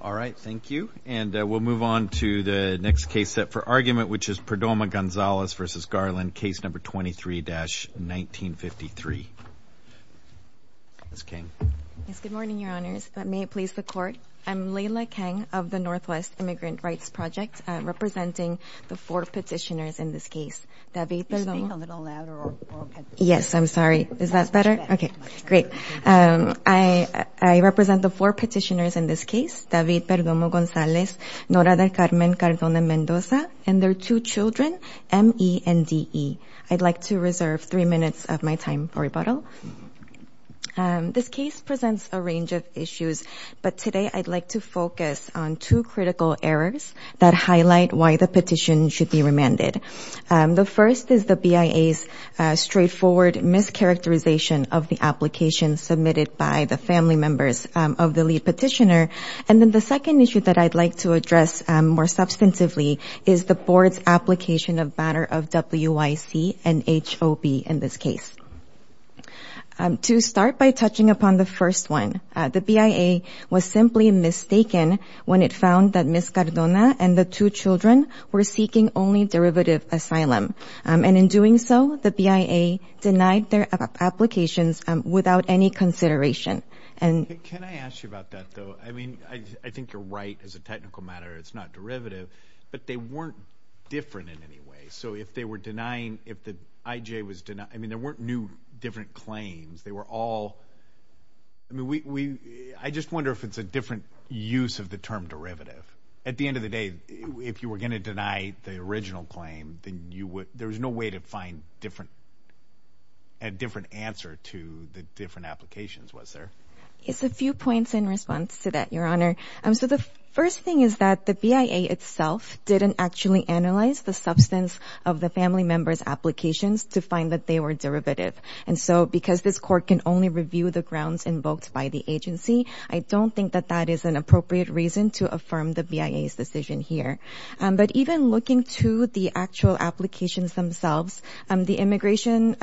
All right, thank you. And we'll move on to the next case set for argument, which is Perdomo-Gonzalez v. Garland, Case No. 23-1953. Ms. Kang. Yes, good morning, Your Honors. May it please the Court? I'm Leila Kang of the Northwest Immigrant Rights Project, representing the four petitioners in this case. Are you speaking a little louder? Yes, I'm sorry. Is that better? Okay, great. I represent the four petitioners in this case, David Perdomo-Gonzalez, Nora del Carmen Cardona-Mendoza, and their two children, M.E. and D.E. I'd like to reserve three minutes of my time for rebuttal. This case presents a range of issues, but today I'd like to focus on two critical errors that highlight why the petition should be remanded. The first is the BIA's straightforward mischaracterization of the application submitted by the family members of the lead petitioner, and then the second issue that I'd like to address more substantively is the Board's application of matter of WIC and HOB in this case. To start by touching upon the first one, the BIA was simply mistaken when it found that Ms. Cardona and the two children were seeking only derivative asylum, and in doing so, the BIA denied their applications without any consideration. Can I ask you about that, though? I mean, I think you're right as a technical matter. It's not derivative, but they weren't different in any way. So if they were denying, if the IJ was denying, I mean, there weren't new different claims. They were all, I mean, I just wonder if it's a different use of the term derivative. At the end of the day, if you were going to deny the original claim, there was no way to find a different answer to the different applications, was there? It's a few points in response to that, Your Honor. So the first thing is that the BIA itself didn't actually analyze the substance of the family members' applications to find that they were derivative. And so because this court can only review the grounds invoked by the agency, I don't think that that is an appropriate reason to affirm the BIA's decision here. But even looking to the actual applications themselves, the immigration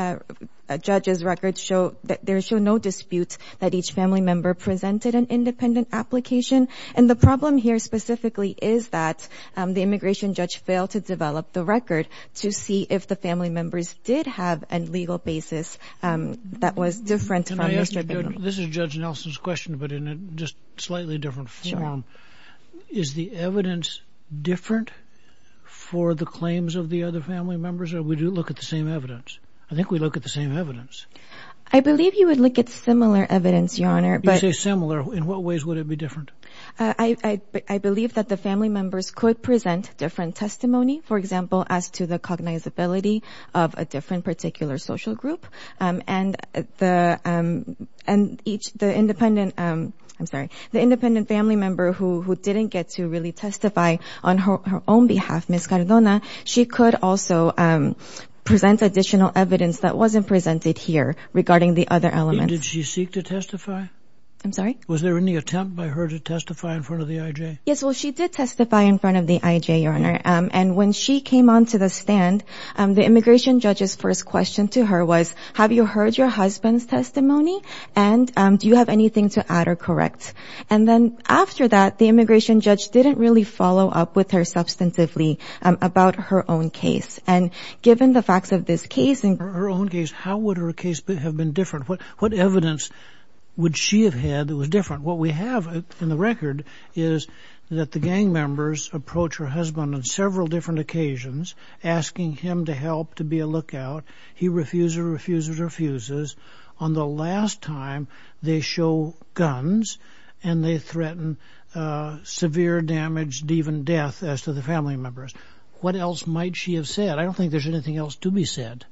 judge's records show that there is no dispute that each family member presented an independent application. And the problem here specifically is that the immigration judge failed to develop the record to see if the family members did have a legal basis that was different from Mr. Bingham. This is Judge Nelson's question, but in a just slightly different form. Is the evidence different for the claims of the other family members, or do we look at the same evidence? I think we look at the same evidence. I believe you would look at similar evidence, Your Honor. You say similar. In what ways would it be different? I believe that the family members could present different testimony, for example, as to the cognizability of a different particular social group. And the independent family member who didn't get to really testify on her own behalf, Ms. Cardona, she could also present additional evidence that wasn't presented here regarding the other elements. Did she seek to testify? I'm sorry? Was there any attempt by her to testify in front of the IJ? Yes, well, she did testify in front of the IJ, Your Honor. And when she came onto the stand, the immigration judge's first question to her was, have you heard your husband's testimony, and do you have anything to add or correct? And then after that, the immigration judge didn't really follow up with her substantively about her own case. And given the facts of this case and her own case, how would her case have been different? What evidence would she have had that was different? What we have in the record is that the gang members approach her husband on several different occasions, asking him to help to be a lookout. He refuses, refuses, refuses. On the last time, they show guns, and they threaten severe damage, even death, as to the family members. What else might she have said? I don't think there's anything else to be said.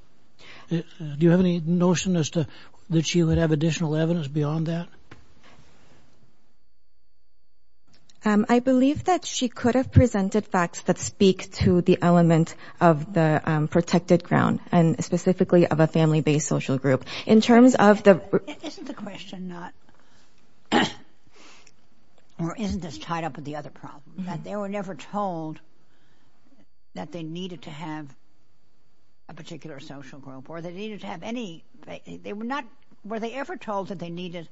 Do you have any notion as to that she would have additional evidence beyond that? I believe that she could have presented facts that speak to the element of the protected ground, and specifically of a family-based social group. In terms of the... Isn't the question not, or isn't this tied up with the other problem, that they were never told that they needed to have a particular social group, or they needed to have any... They were not... Were they ever told that they needed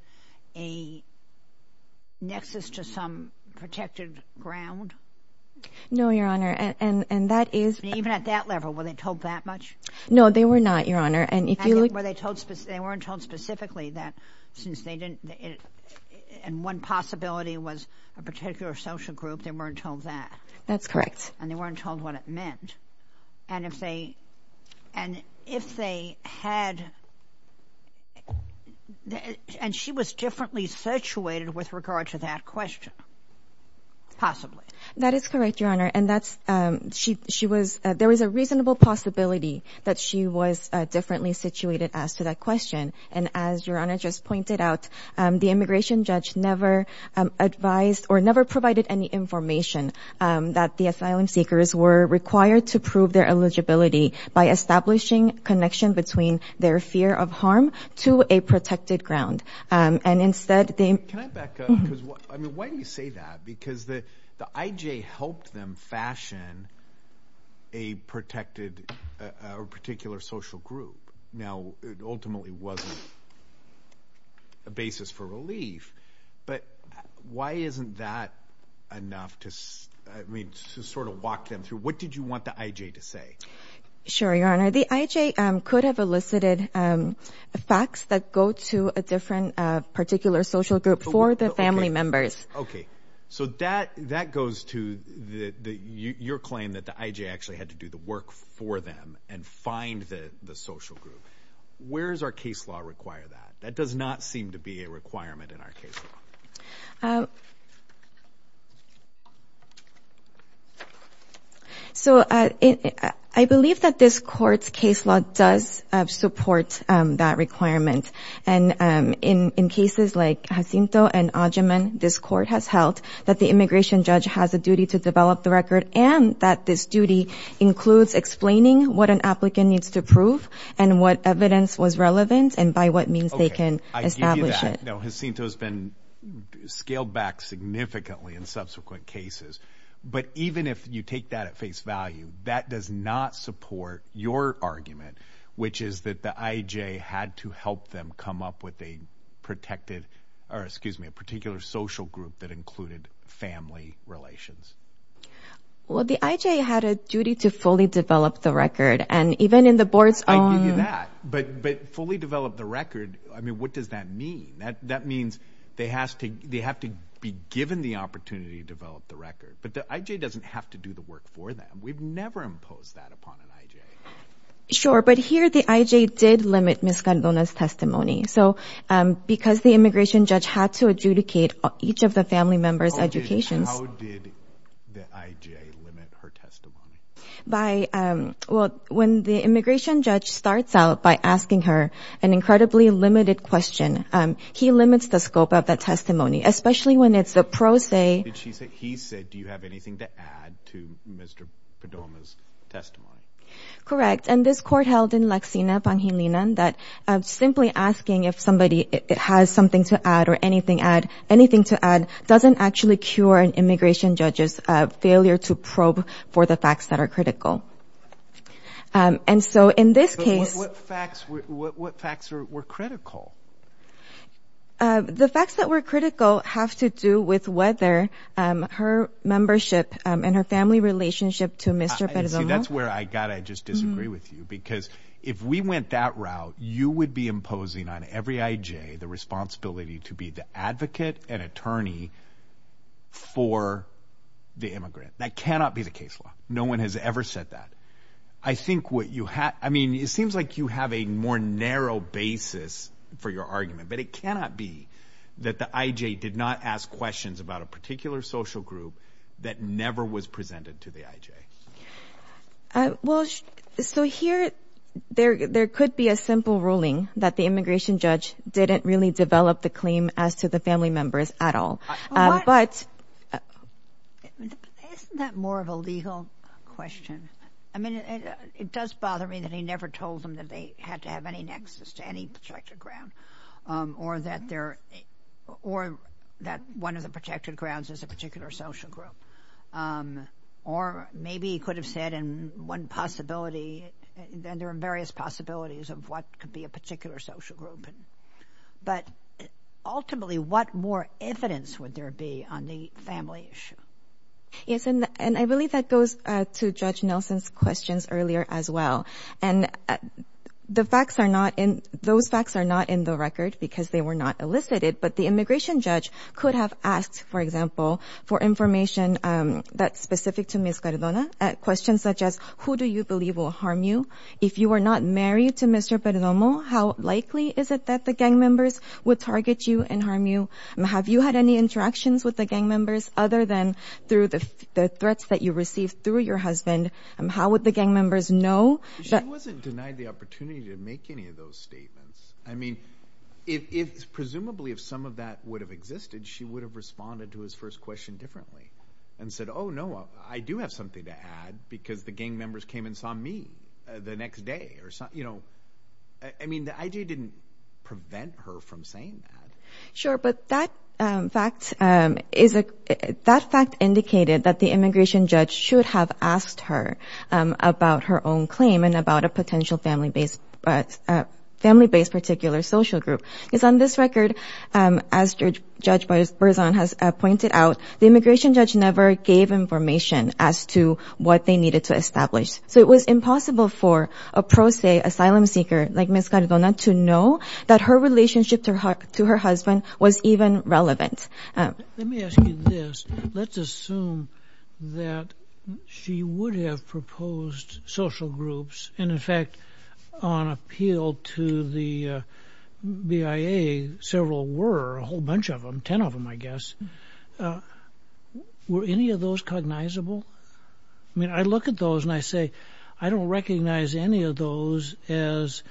a nexus to some protected ground? No, Your Honor, and that is... Even at that level, were they told that much? No, they were not, Your Honor, and if you look... They weren't told specifically that, since they didn't... And one possibility was a particular social group. They weren't told that. That's correct. And they weren't told what it meant. And if they had... And she was differently situated with regard to that question, possibly. That is correct, Your Honor, and that's... She was... There was a reasonable possibility that she was differently situated as to that question, and as Your Honor just pointed out, the immigration judge never advised or never provided any information that the asylum seekers were required to prove their eligibility by establishing connection between their fear of harm to a protected ground. And instead, they... Can I back up? Because, I mean, why do you say that? Because the IJ helped them fashion a protected or particular social group. Now, it ultimately wasn't a basis for relief, but why isn't that enough to sort of walk them through? What did you want the IJ to say? Sure, Your Honor. The IJ could have elicited facts that go to a different particular social group for the family members. Okay, so that goes to your claim that the IJ actually had to do the work for them and find the social group. Where does our case law require that? That does not seem to be a requirement in our case law. So, I believe that this court's case law does support that requirement. And in cases like Jacinto and Agyeman, this court has held that the immigration judge has a duty to develop the record and that this duty includes explaining what an applicant needs to prove and what evidence was relevant and by what means they can establish it. Now, Jacinto has been scaled back significantly in subsequent cases. But even if you take that at face value, that does not support your argument, which is that the IJ had to help them come up with a protected or, excuse me, a particular social group that included family relations. Well, the IJ had a duty to fully develop the record. And even in the board's own... I give you that. But fully develop the record, I mean, what does that mean? That means they have to be given the opportunity to develop the record. But the IJ doesn't have to do the work for them. We've never imposed that upon an IJ. Sure, but here the IJ did limit Ms. Cardona's testimony. So because the immigration judge had to adjudicate each of the family members' educations... How did the IJ limit her testimony? By, well, when the immigration judge starts out by asking her an incredibly limited question, he limits the scope of the testimony, especially when it's the pro se. He said, do you have anything to add to Mr. Cardona's testimony? Correct. And this court held in Lexina, Pangilinan, that simply asking if somebody has something to add or anything to add doesn't actually cure an immigration judge's failure to probe for the facts that are critical. And so in this case... So what facts were critical? The facts that were critical have to do with whether her membership and her family relationship to Mr. Perdomo... See, that's where I've got to just disagree with you, because if we went that route, you would be imposing on every IJ the responsibility to be the advocate and attorney for the immigrant. That cannot be the case law. No one has ever said that. I think what you have, I mean, it seems like you have a more narrow basis for your argument, but it cannot be that the IJ did not ask questions about a particular social group that never was presented to the IJ. Well, so here there could be a simple ruling that the immigration judge didn't really develop the claim as to the family members at all, but... Isn't that more of a legal question? I mean, it does bother me that he never told them that they had to have any nexus to any protected ground or that one of the protected grounds is a particular social group. Or maybe he could have said in one possibility, and there are various possibilities of what could be a particular social group. But ultimately, what more evidence would there be on the family issue? Yes, and I believe that goes to Judge Nelson's questions earlier as well. And those facts are not in the record because they were not elicited, but the immigration judge could have asked, for example, for information that's specific to Ms. Cardona, questions such as who do you believe will harm you? If you were not married to Mr. Perdomo, how likely is it that the gang members would target you and harm you? Have you had any interactions with the gang members other than through the threats that you received through your husband? How would the gang members know? She wasn't denied the opportunity to make any of those statements. I mean, presumably if some of that would have existed, she would have responded to his first question differently and said, oh, no, I do have something to add because the gang members came and saw me the next day. I mean, the idea didn't prevent her from saying that. Sure, but that fact indicated that the immigration judge should have asked her about her own claim and about a potential family-based particular social group. On this record, as Judge Berzon has pointed out, the immigration judge never gave information as to what they needed to establish. So it was impossible for a pro se asylum seeker like Ms. Cardona to know that her relationship to her husband was even relevant. Let me ask you this. Let's assume that she would have proposed social groups and, in fact, on appeal to the BIA, several were, a whole bunch of them, ten of them, I guess. Were any of those cognizable? I mean, I look at those and I say, I don't recognize any of those as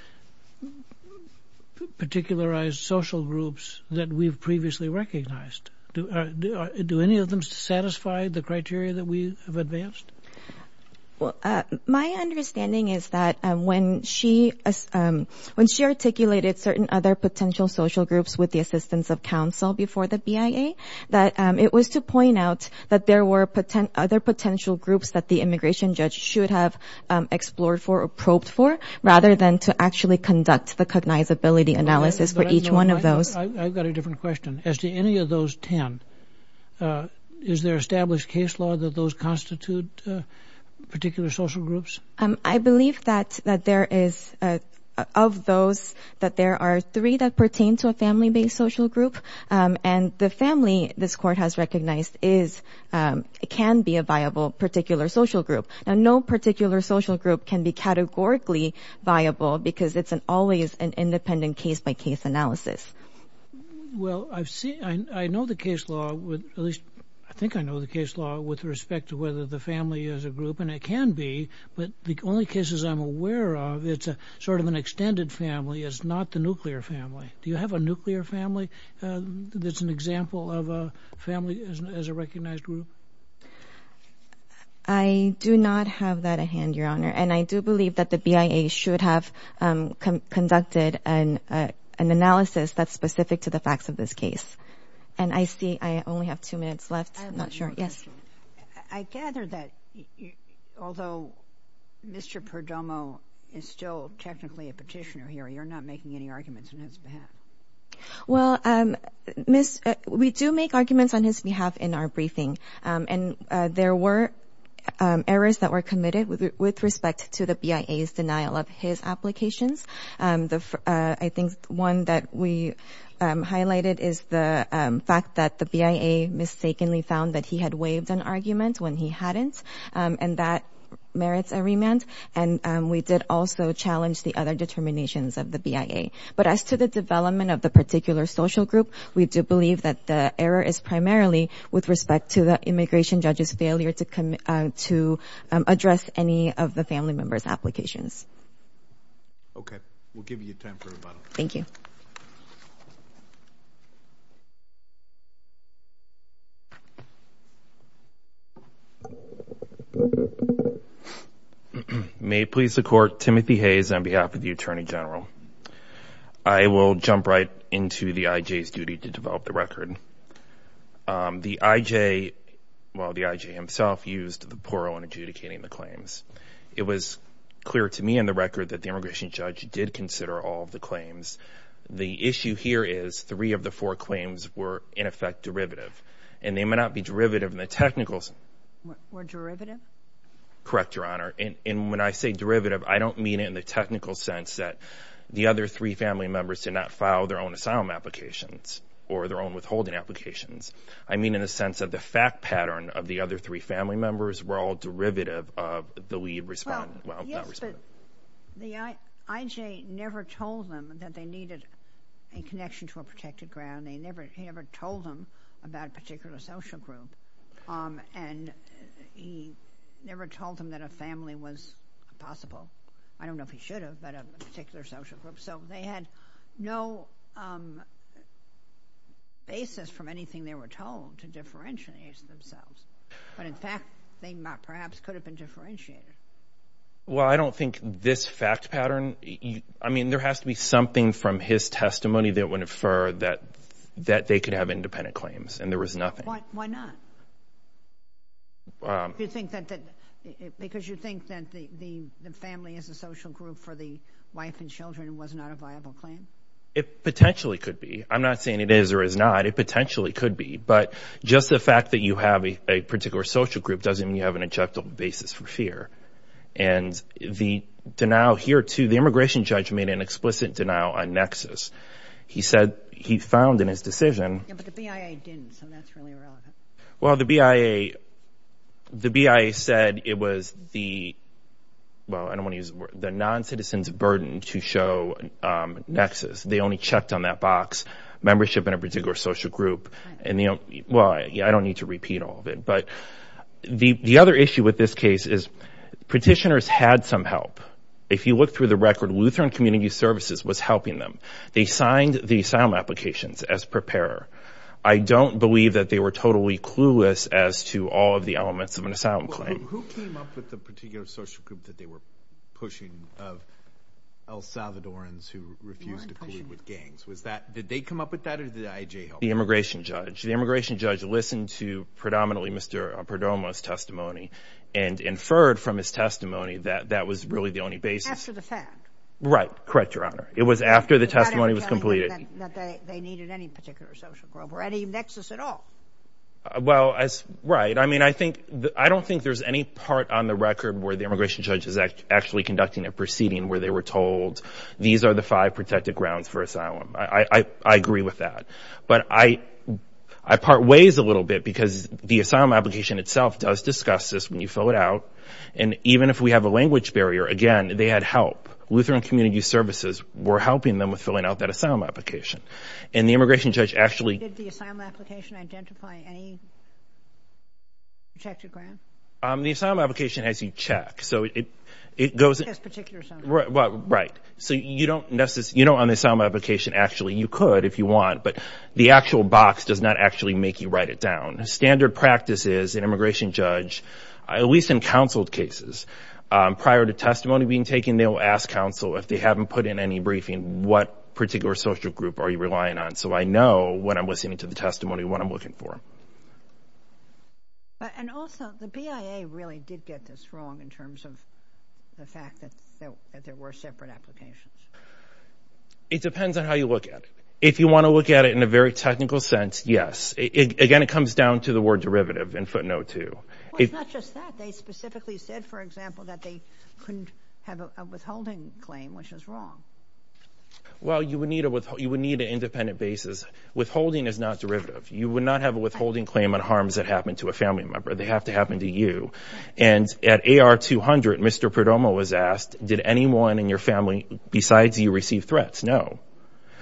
particularized social groups that we've previously recognized. Do any of them satisfy the criteria that we have advanced? My understanding is that when she articulated certain other potential social groups with the assistance of counsel before the BIA, that it was to point out that there were other potential groups that the immigration judge should have explored for or probed for rather than to actually conduct the cognizability analysis for each one of those. I've got a different question. As to any of those ten, is there established case law that those constitute particular social groups? I believe that there is, of those, that there are three that pertain to a family-based social group and the family this court has recognized can be a viable particular social group. Now, no particular social group can be categorically viable because it's always an independent case-by-case analysis. Well, I know the case law, at least I think I know the case law, with respect to whether the family is a group, and it can be, but the only cases I'm aware of, it's sort of an extended family, it's not the nuclear family. Do you have a nuclear family that's an example of a family as a recognized group? I do not have that at hand, Your Honor, and I do believe that the BIA should have conducted an analysis that's specific to the facts of this case. And I see I only have two minutes left. I have one more question. I gather that, although Mr. Perdomo is still technically a petitioner here, you're not making any arguments on his behalf. Well, we do make arguments on his behalf in our briefing, and there were errors that were committed with respect to the BIA's denial of his applications. I think one that we highlighted is the fact that the BIA mistakenly found that he had waived an argument when he hadn't, and that merits a remand, and we did also challenge the other determinations of the BIA. But as to the development of the particular social group, we do believe that the error is primarily with respect to the immigration judge's failure to address any of the family members' applications. Okay. We'll give you time for rebuttal. Thank you. May it please the Court, Timothy Hayes on behalf of the Attorney General. I will jump right into the I.J.'s duty to develop the record. The I.J., well, the I.J. himself, used the poro in adjudicating the claims. It was clear to me in the record that the immigration judge did consider all of the claims. The issue here is three of the four claims were, in effect, derivative, and they may not be derivative in the technical sense. Were derivative? Correct, Your Honor. And when I say derivative, I don't mean it in the technical sense that the other three family members did not file their own asylum applications or their own withholding applications. I mean in the sense that the fact pattern of the other three family members were all derivative of the lead respondent. Well, yes, but the I.J. never told them that they needed a connection to a protected ground. He never told them about a particular social group, and he never told them that a family was possible. I don't know if he should have, but a particular social group. So they had no basis from anything they were told to differentiate themselves. But, in fact, they perhaps could have been differentiated. Well, I don't think this fact pattern, I mean there has to be something from his testimony that would infer that they could have independent claims, and there was nothing. Why not? Because you think that the family as a social group for the wife and children was not a viable claim? It potentially could be. I'm not saying it is or is not. It potentially could be. But just the fact that you have a particular social group doesn't mean you have an objective basis for fear. And the denial here, too, the immigration judge made an explicit denial on nexus. He said he found in his decision. Yeah, but the BIA didn't, so that's really irrelevant. Well, the BIA said it was the non-citizen's burden to show nexus. They only checked on that box, membership in a particular social group. Well, I don't need to repeat all of it. But the other issue with this case is petitioners had some help. If you look through the record, Lutheran Community Services was helping them. They signed the asylum applications as preparer. I don't believe that they were totally clueless as to all of the elements of an asylum claim. Who came up with the particular social group that they were pushing of El Salvadorans who refused to collude with gangs? Did they come up with that or did IJ help? The immigration judge. The immigration judge listened to predominantly Mr. Perdomo's testimony and inferred from his testimony that that was really the only basis. After the fact. Right, correct, Your Honor. It was after the testimony was completed. They needed any particular social group or any nexus at all. Well, right. I mean, I don't think there's any part on the record where the immigration judge is actually conducting a proceeding where they were told these are the five protected grounds for asylum. I agree with that. But I part ways a little bit because the asylum application itself does discuss this when you fill it out. And even if we have a language barrier, again, they had help. Lutheran Community Services were helping them with filling out that asylum application. And the immigration judge actually. Did the asylum application identify any protected grounds? The asylum application has you check. So it goes. This particular asylum. Right. So you don't necessarily. You don't on the asylum application actually. You could if you want. But the actual box does not actually make you write it down. Standard practice is an immigration judge, at least in counsel cases, prior to testimony being taken, they will ask counsel if they haven't put in any briefing, what particular social group are you relying on? So I know when I'm listening to the testimony what I'm looking for. And also, the BIA really did get this wrong in terms of the fact that there were separate applications. It depends on how you look at it. If you want to look at it in a very technical sense, yes. Again, it comes down to the word derivative in footnote two. Well, it's not just that. They specifically said, for example, that they couldn't have a withholding claim, which is wrong. Well, you would need an independent basis. Withholding is not derivative. You would not have a withholding claim on harms that happen to a family member. They have to happen to you. And at AR 200, Mr. Perdomo was asked, did anyone in your family besides you receive threats? No.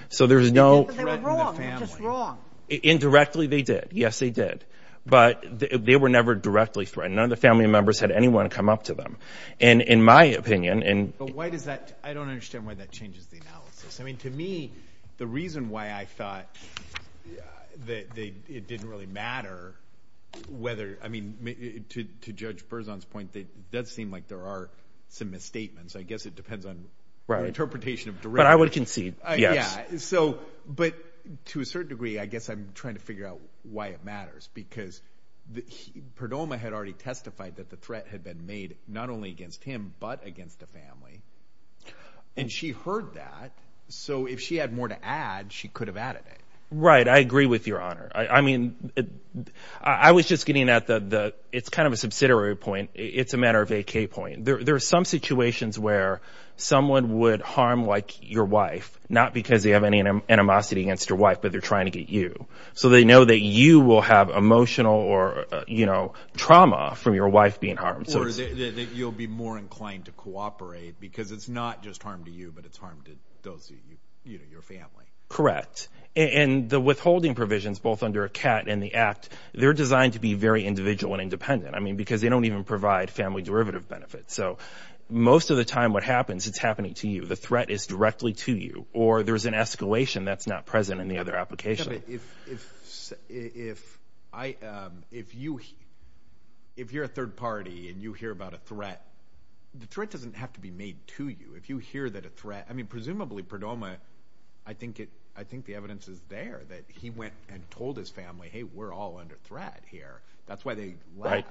So there's no. But they were wrong. They were just wrong. Indirectly, they did. Yes, they did. But they were never directly threatened. None of the family members had anyone come up to them. And in my opinion. But why does that? I don't understand why that changes the analysis. I mean, to me, the reason why I thought that it didn't really matter whether. I mean, to Judge Berzon's point, it does seem like there are some misstatements. I guess it depends on interpretation of derivative. But I would concede, yes. So, but to a certain degree, I guess I'm trying to figure out why it matters. Because Perdomo had already testified that the threat had been made not only against him, but against a family. And she heard that. So if she had more to add, she could have added it. Right. I agree with Your Honor. I mean, I was just getting at the it's kind of a subsidiary point. It's a matter of a key point. There are some situations where someone would harm like your wife. Not because they have any animosity against your wife, but they're trying to get you. So they know that you will have emotional or trauma from your wife being harmed. Or that you'll be more inclined to cooperate because it's not just harm to you, but it's harm to your family. Correct. And the withholding provisions, both under ACAT and the Act, they're designed to be very individual and independent. I mean, because they don't even provide family derivative benefits. So most of the time what happens, it's happening to you. The threat is directly to you. Or there's an escalation that's not present in the other application. If you're a third party and you hear about a threat, the threat doesn't have to be made to you. If you hear that a threat – I mean, presumably Perdomo, I think the evidence is there that he went and told his family, hey, we're all under threat here. That's why they left.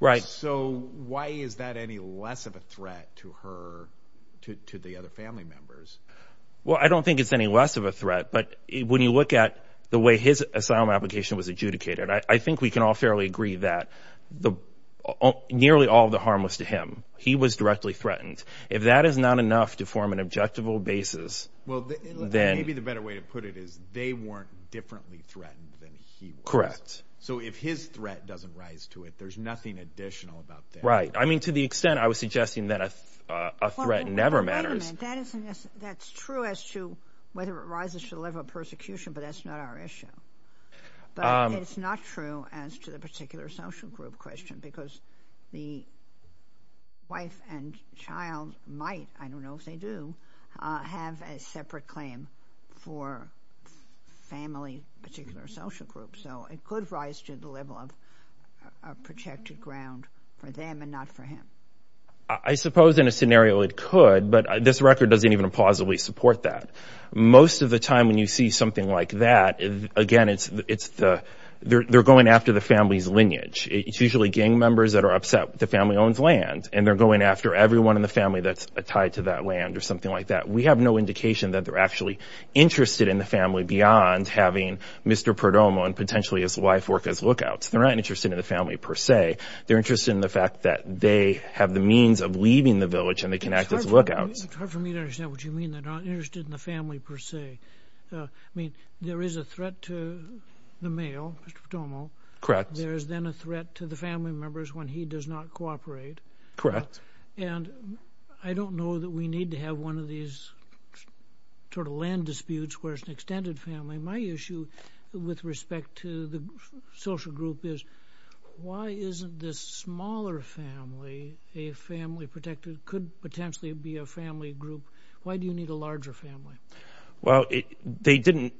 Right. So why is that any less of a threat to her, to the other family members? Well, I don't think it's any less of a threat, but when you look at the way his asylum application was adjudicated, I think we can all fairly agree that nearly all of the harm was to him. He was directly threatened. If that is not enough to form an objective basis, then – Well, maybe the better way to put it is they weren't differently threatened than he was. Correct. So if his threat doesn't rise to it, there's nothing additional about that. Right. I mean, to the extent I was suggesting that a threat never matters – But that's true as to whether it rises to the level of persecution, but that's not our issue. But it's not true as to the particular social group question because the wife and child might – I don't know if they do – have a separate claim for family, particular social group. So it could rise to the level of a protected ground for them and not for him. I suppose in a scenario it could, but this record doesn't even plausibly support that. Most of the time when you see something like that, again, they're going after the family's lineage. It's usually gang members that are upset the family owns land, and they're going after everyone in the family that's tied to that land or something like that. We have no indication that they're actually interested in the family beyond having Mr. Perdomo and potentially his wife work as lookouts. They're not interested in the family per se. They're interested in the fact that they have the means of leaving the village and they can act as lookouts. It's hard for me to understand what you mean. They're not interested in the family per se. I mean, there is a threat to the male, Mr. Perdomo. Correct. There is then a threat to the family members when he does not cooperate. And I don't know that we need to have one of these sort of land disputes where it's an extended family. My issue with respect to the social group is why isn't this smaller family a family protected? It could potentially be a family group. Why do you need a larger family? Well, they didn't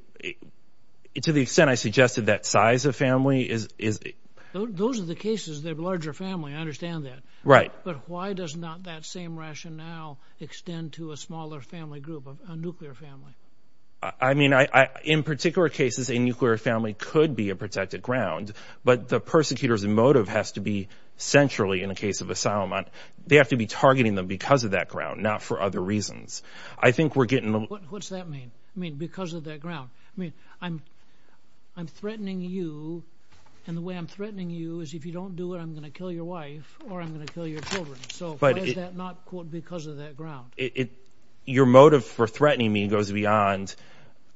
– to the extent I suggested that size of family is – Those are the cases. They have a larger family. I understand that. Right. But why does not that same rationale extend to a smaller family group, a nuclear family? I mean, in particular cases, a nuclear family could be a protected ground, but the persecutor's motive has to be centrally, in the case of asylum, they have to be targeting them because of that ground, not for other reasons. I think we're getting – What's that mean? You mean because of that ground? I mean, I'm threatening you, and the way I'm threatening you is if you don't do it, I'm going to kill your wife or I'm going to kill your children. So why is that not, quote, because of that ground? Your motive for threatening me goes beyond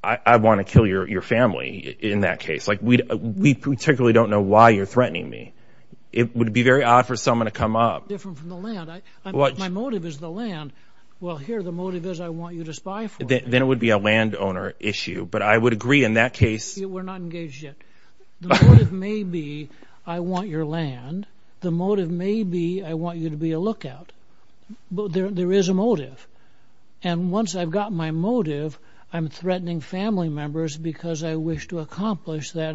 I want to kill your family in that case. We particularly don't know why you're threatening me. It would be very odd for someone to come up. Different from the land. My motive is the land. Well, here the motive is I want you to spy for me. Then it would be a landowner issue, but I would agree in that case. We're not engaged yet. The motive may be I want your land. The motive may be I want you to be a lookout. There is a motive. And once I've got my motive, I'm threatening family members because I wish to accomplish that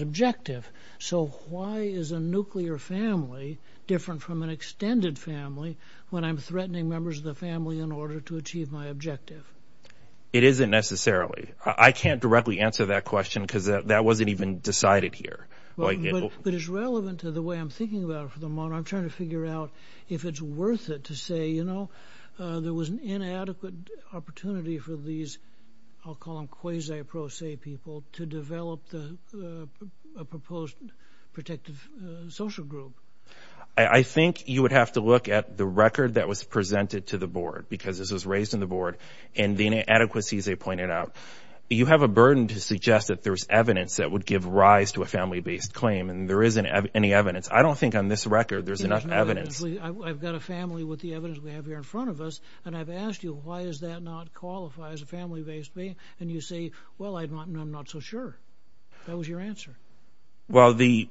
objective. So why is a nuclear family different from an extended family when I'm threatening members of the family in order to achieve my objective? It isn't necessarily. I can't directly answer that question because that wasn't even decided here. But it's relevant to the way I'm thinking about it for the moment. I'm trying to figure out if it's worth it to say, you know, there was an inadequate opportunity for these, I'll call them quasi-pro se people, to develop a proposed protective social group. I think you would have to look at the record that was presented to the board because this was raised in the board and the inadequacies they pointed out. You have a burden to suggest that there's evidence that would give rise to a family-based claim, and there isn't any evidence. I don't think on this record there's enough evidence. I've got a family with the evidence we have here in front of us, and I've asked you why does that not qualify as a family-based claim, and you say, well, I'm not so sure. That was your answer. Well, the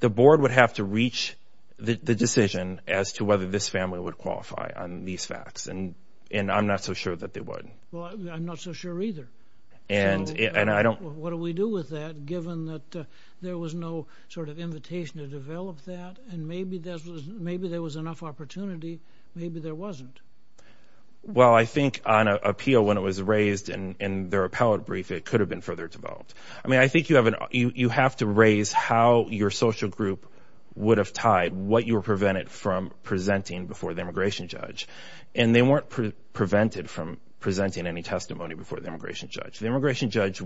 board would have to reach the decision as to whether this family would qualify on these facts, and I'm not so sure that they would. Well, I'm not so sure either. What do we do with that given that there was no sort of invitation to develop that, and maybe there was enough opportunity, maybe there wasn't? Well, I think on appeal when it was raised in their appellate brief, it could have been further developed. I mean, I think you have to raise how your social group would have tied what you were prevented from presenting before the immigration judge, and they weren't prevented from presenting any testimony before the immigration judge. The immigration judge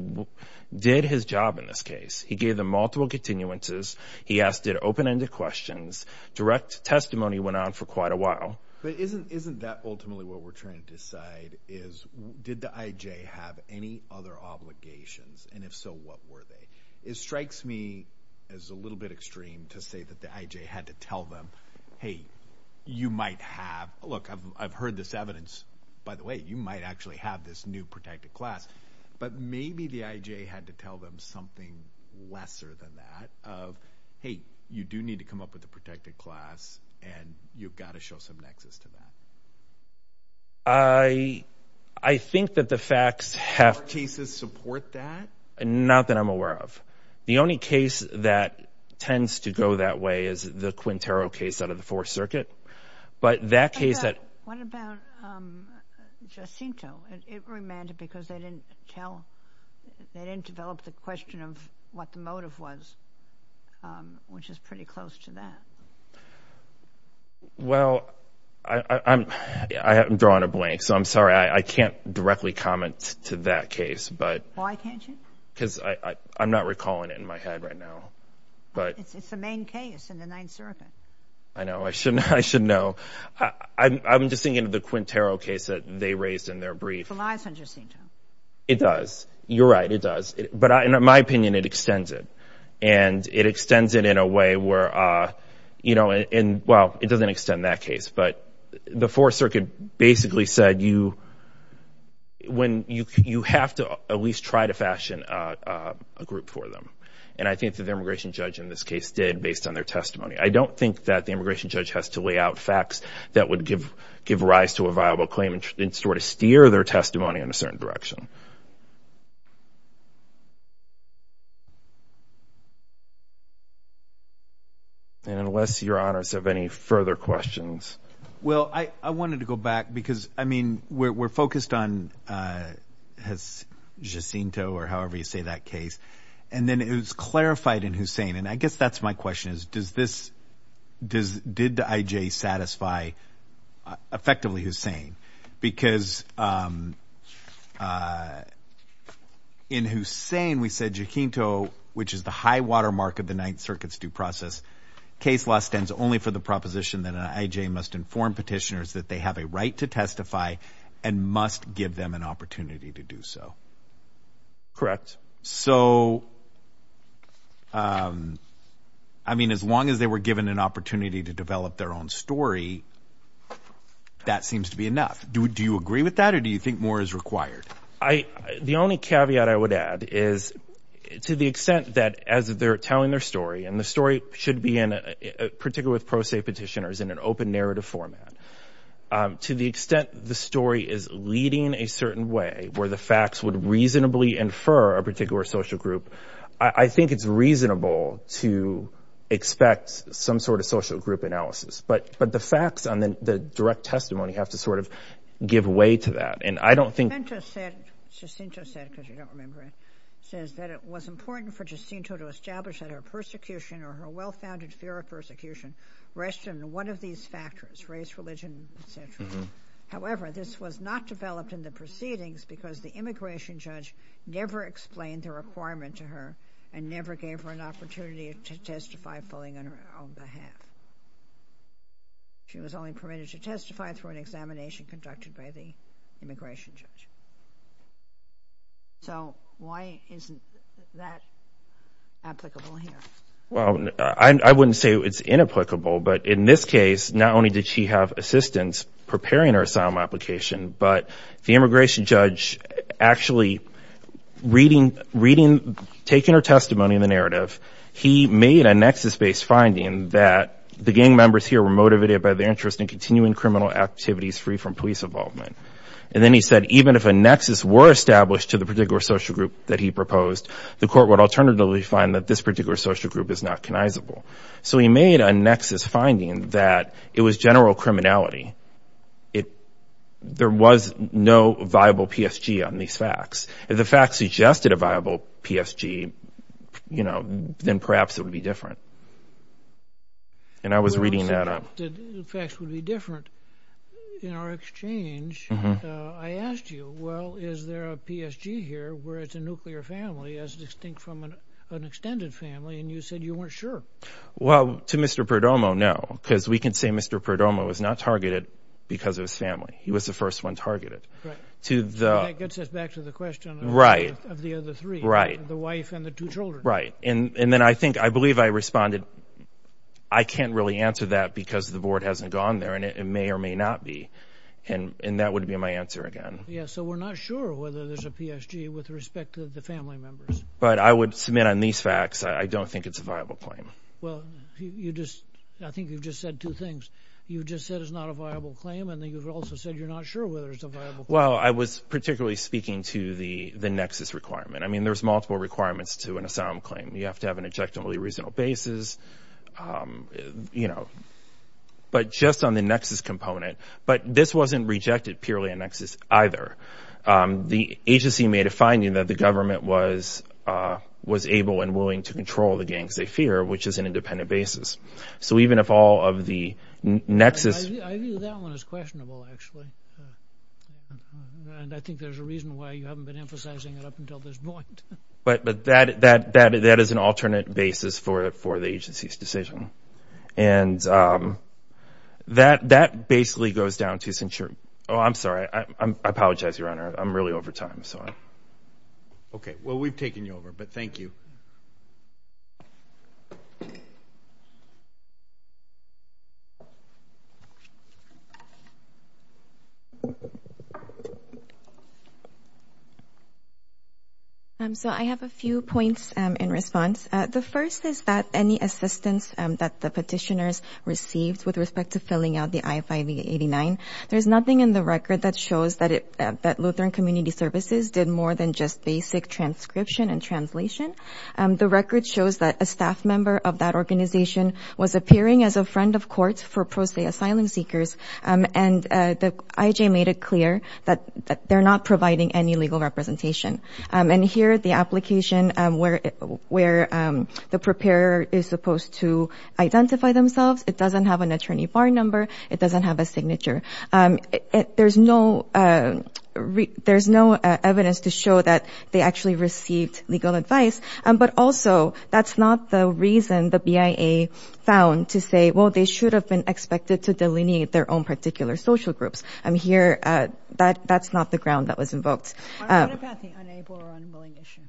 did his job in this case. He gave them multiple continuances. He asked them open-ended questions. Direct testimony went on for quite a while. But isn't that ultimately what we're trying to decide, is did the IJ have any other obligations, and if so, what were they? It strikes me as a little bit extreme to say that the IJ had to tell them, hey, you might have, look, I've heard this evidence. By the way, you might actually have this new protected class. But maybe the IJ had to tell them something lesser than that of, hey, you do need to come up with a protected class, and you've got to show some nexus to that. I think that the facts have— Do our cases support that? Not that I'm aware of. The only case that tends to go that way is the Quintero case out of the Fourth Circuit. But that case that— What about Jacinto? It remanded because they didn't tell— they didn't develop the question of what the motive was, which is pretty close to that. Well, I'm drawing a blank, so I'm sorry. I can't directly comment to that case. Why can't you? Because I'm not recalling it in my head right now. It's the main case in the Ninth Circuit. I know. I should know. I'm just thinking of the Quintero case that they raised in their brief. It relies on Jacinto. It does. You're right. It does. But in my opinion, it extends it. And it extends it in a way where— well, it doesn't extend that case. But the Fourth Circuit basically said you have to at least try to fashion a group for them. And I think that the immigration judge in this case did based on their testimony. I don't think that the immigration judge has to lay out facts that would give rise to a viable claim and sort of steer their testimony in a certain direction. And unless Your Honors have any further questions. Well, I wanted to go back because, I mean, we're focused on Jacinto or however you say that case. And then it was clarified in Hussain. And I guess that's my question is, did I.J. satisfy effectively Hussain? Because in Hussain, we said Jacinto, which is the high-water mark of the Ninth Circuit's due process, case law stands only for the proposition that an I.J. must inform petitioners that they have a right to testify and must give them an opportunity to do so. Correct. So, I mean, as long as they were given an opportunity to develop their own story, that seems to be enough. Do you agree with that or do you think more is required? The only caveat I would add is to the extent that as they're telling their story, and the story should be in particular with pro se petitioners in an open narrative format, to the extent the story is leading a certain way where the facts would reasonably infer a particular social group, I think it's reasonable to expect some sort of social group analysis. But the facts on the direct testimony have to sort of give way to that. And I don't think. Jacinto said, because you don't remember it, says that it was important for Jacinto to establish that her persecution or her well-founded fear of persecution rested in one of these factors, race, religion, et cetera. However, this was not developed in the proceedings because the immigration judge never explained the requirement to her and never gave her an opportunity to testify fully on her own behalf. She was only permitted to testify through an examination conducted by the immigration judge. So, why isn't that applicable here? I wouldn't say it's inapplicable. But in this case, not only did she have assistance preparing her asylum application, but the immigration judge actually, reading, taking her testimony in the narrative, he made a nexus-based finding that the gang members here were motivated by their interest in continuing criminal activities free from police involvement. And then he said even if a nexus were established to the particular social group that he proposed, the court would alternatively find that this particular social group is not connizable. So he made a nexus finding that it was general criminality. There was no viable PSG on these facts. If the facts suggested a viable PSG, you know, then perhaps it would be different. And I was reading that up. If the facts would be different in our exchange, I asked you, well, is there a PSG here where it's a nuclear family as distinct from an extended family? And you said you weren't sure. Well, to Mr. Perdomo, no. Because we can say Mr. Perdomo was not targeted because of his family. He was the first one targeted. Right. So that gets us back to the question of the other three. Right. The wife and the two children. Right. And then I think, I believe I responded, I can't really answer that because the board hasn't gone there and it may or may not be. And that would be my answer again. Yeah, so we're not sure whether there's a PSG with respect to the family members. But I would submit on these facts, I don't think it's a viable claim. Well, you just, I think you've just said two things. You just said it's not a viable claim and then you've also said you're not sure whether it's a viable claim. Well, I was particularly speaking to the nexus requirement. I mean, there's multiple requirements to an asylum claim. You have to have an objectively reasonable basis, you know, but just on the nexus component. But this wasn't rejected purely on nexus either. The agency made a finding that the government was able and willing to control the gangs they fear, which is an independent basis. So even if all of the nexus. I view that one as questionable, actually. And I think there's a reason why you haven't been emphasizing it up until this point. But that is an alternate basis for the agency's decision. And that basically goes down to, oh, I'm sorry. I apologize, Your Honor. I'm really over time. Okay. Well, we've taken you over, but thank you. So I have a few points in response. The first is that any assistance that the petitioners received with respect to filling out the I-589, there's nothing in the record that shows that Lutheran Community Services did more than just basic transcription and translation. The record shows that a staff member of that organization was appearing as a friend of courts for pro se asylum seekers, and the IJ made it clear that they're not providing any legal representation. And here, the application where the preparer is supposed to identify themselves, it doesn't have an attorney bar number. It doesn't have a signature. There's no evidence to show that they actually received legal advice. But also, that's not the reason the BIA found to say, well, they should have been expected to delineate their own particular social groups. Here, that's not the ground that was invoked. What about the unable or unwilling issue?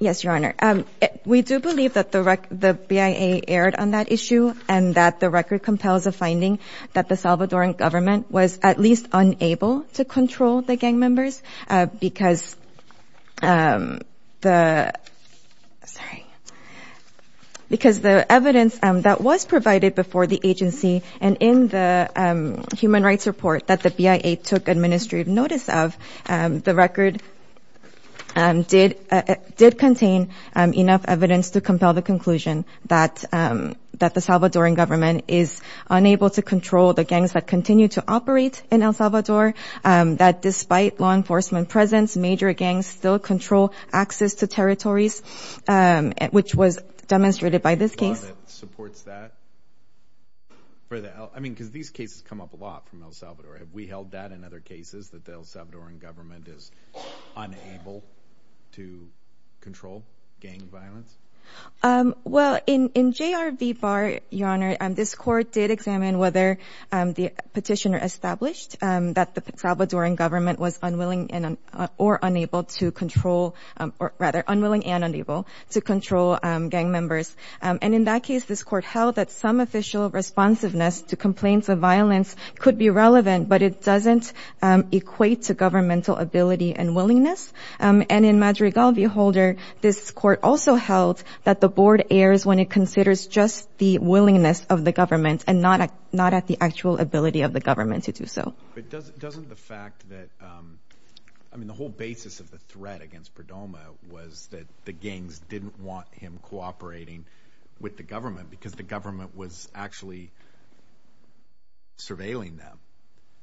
Yes, Your Honor, we do believe that the BIA erred on that issue and that the record compels a finding that the Salvadoran government was at least unable to control the gang members because the evidence that was provided before the agency and in the human rights report that the BIA took administrative notice of, the record did contain enough evidence to compel the conclusion that the Salvadoran government is unable to control the gangs that continue to operate in El Salvador, that despite law enforcement presence, major gangs still control access to territories, which was demonstrated by this case. Your Honor, supports that? I mean, because these cases come up a lot from El Salvador. Have we held that in other cases, that the El Salvadoran government is unable to control gang violence? Well, in J.R. V. Barr, Your Honor, this court did examine whether the petitioner established that the Salvadoran government was unwilling and unable to control gang members. And in that case, this court held that some official responsiveness to complaints of violence could be relevant, but it doesn't equate to governmental ability and willingness. And in Madrigal v. Holder, this court also held that the board errs when it considers just the willingness of the government and not at the actual ability of the government to do so. But doesn't the fact that, I mean, the whole basis of the threat against Perdomo was that the gangs didn't want him cooperating with the government because the government was actually surveilling them.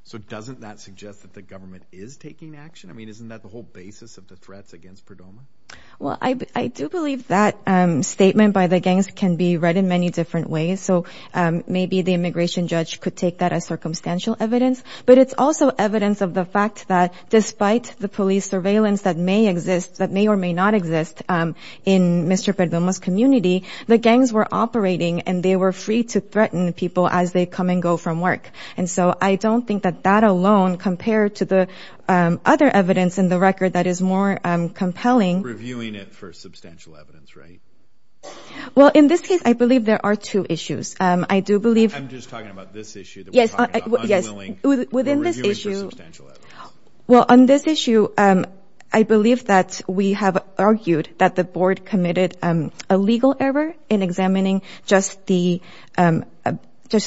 So doesn't that suggest that the government is taking action? I mean, isn't that the whole basis of the threats against Perdomo? Well, I do believe that statement by the gangs can be read in many different ways. So maybe the immigration judge could take that as circumstantial evidence. But it's also evidence of the fact that despite the police surveillance that may exist, that may or may not exist in Mr. Perdomo's community, the gangs were operating and they were free to threaten people as they come and go from work. And so I don't think that that alone compared to the other evidence in the record that is more compelling. Reviewing it for substantial evidence, right? Well, in this case, I believe there are two issues. I'm just talking about this issue that we're talking about, unwilling or reviewing for substantial evidence. Well, on this issue, I believe that we have argued that the board committed a legal error in examining just the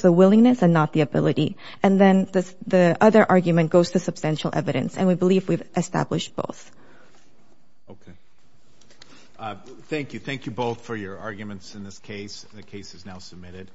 willingness and not the ability. And then the other argument goes to substantial evidence. And we believe we've established both. Okay. Thank you. Thank you both for your arguments in this case. The case is now submitted.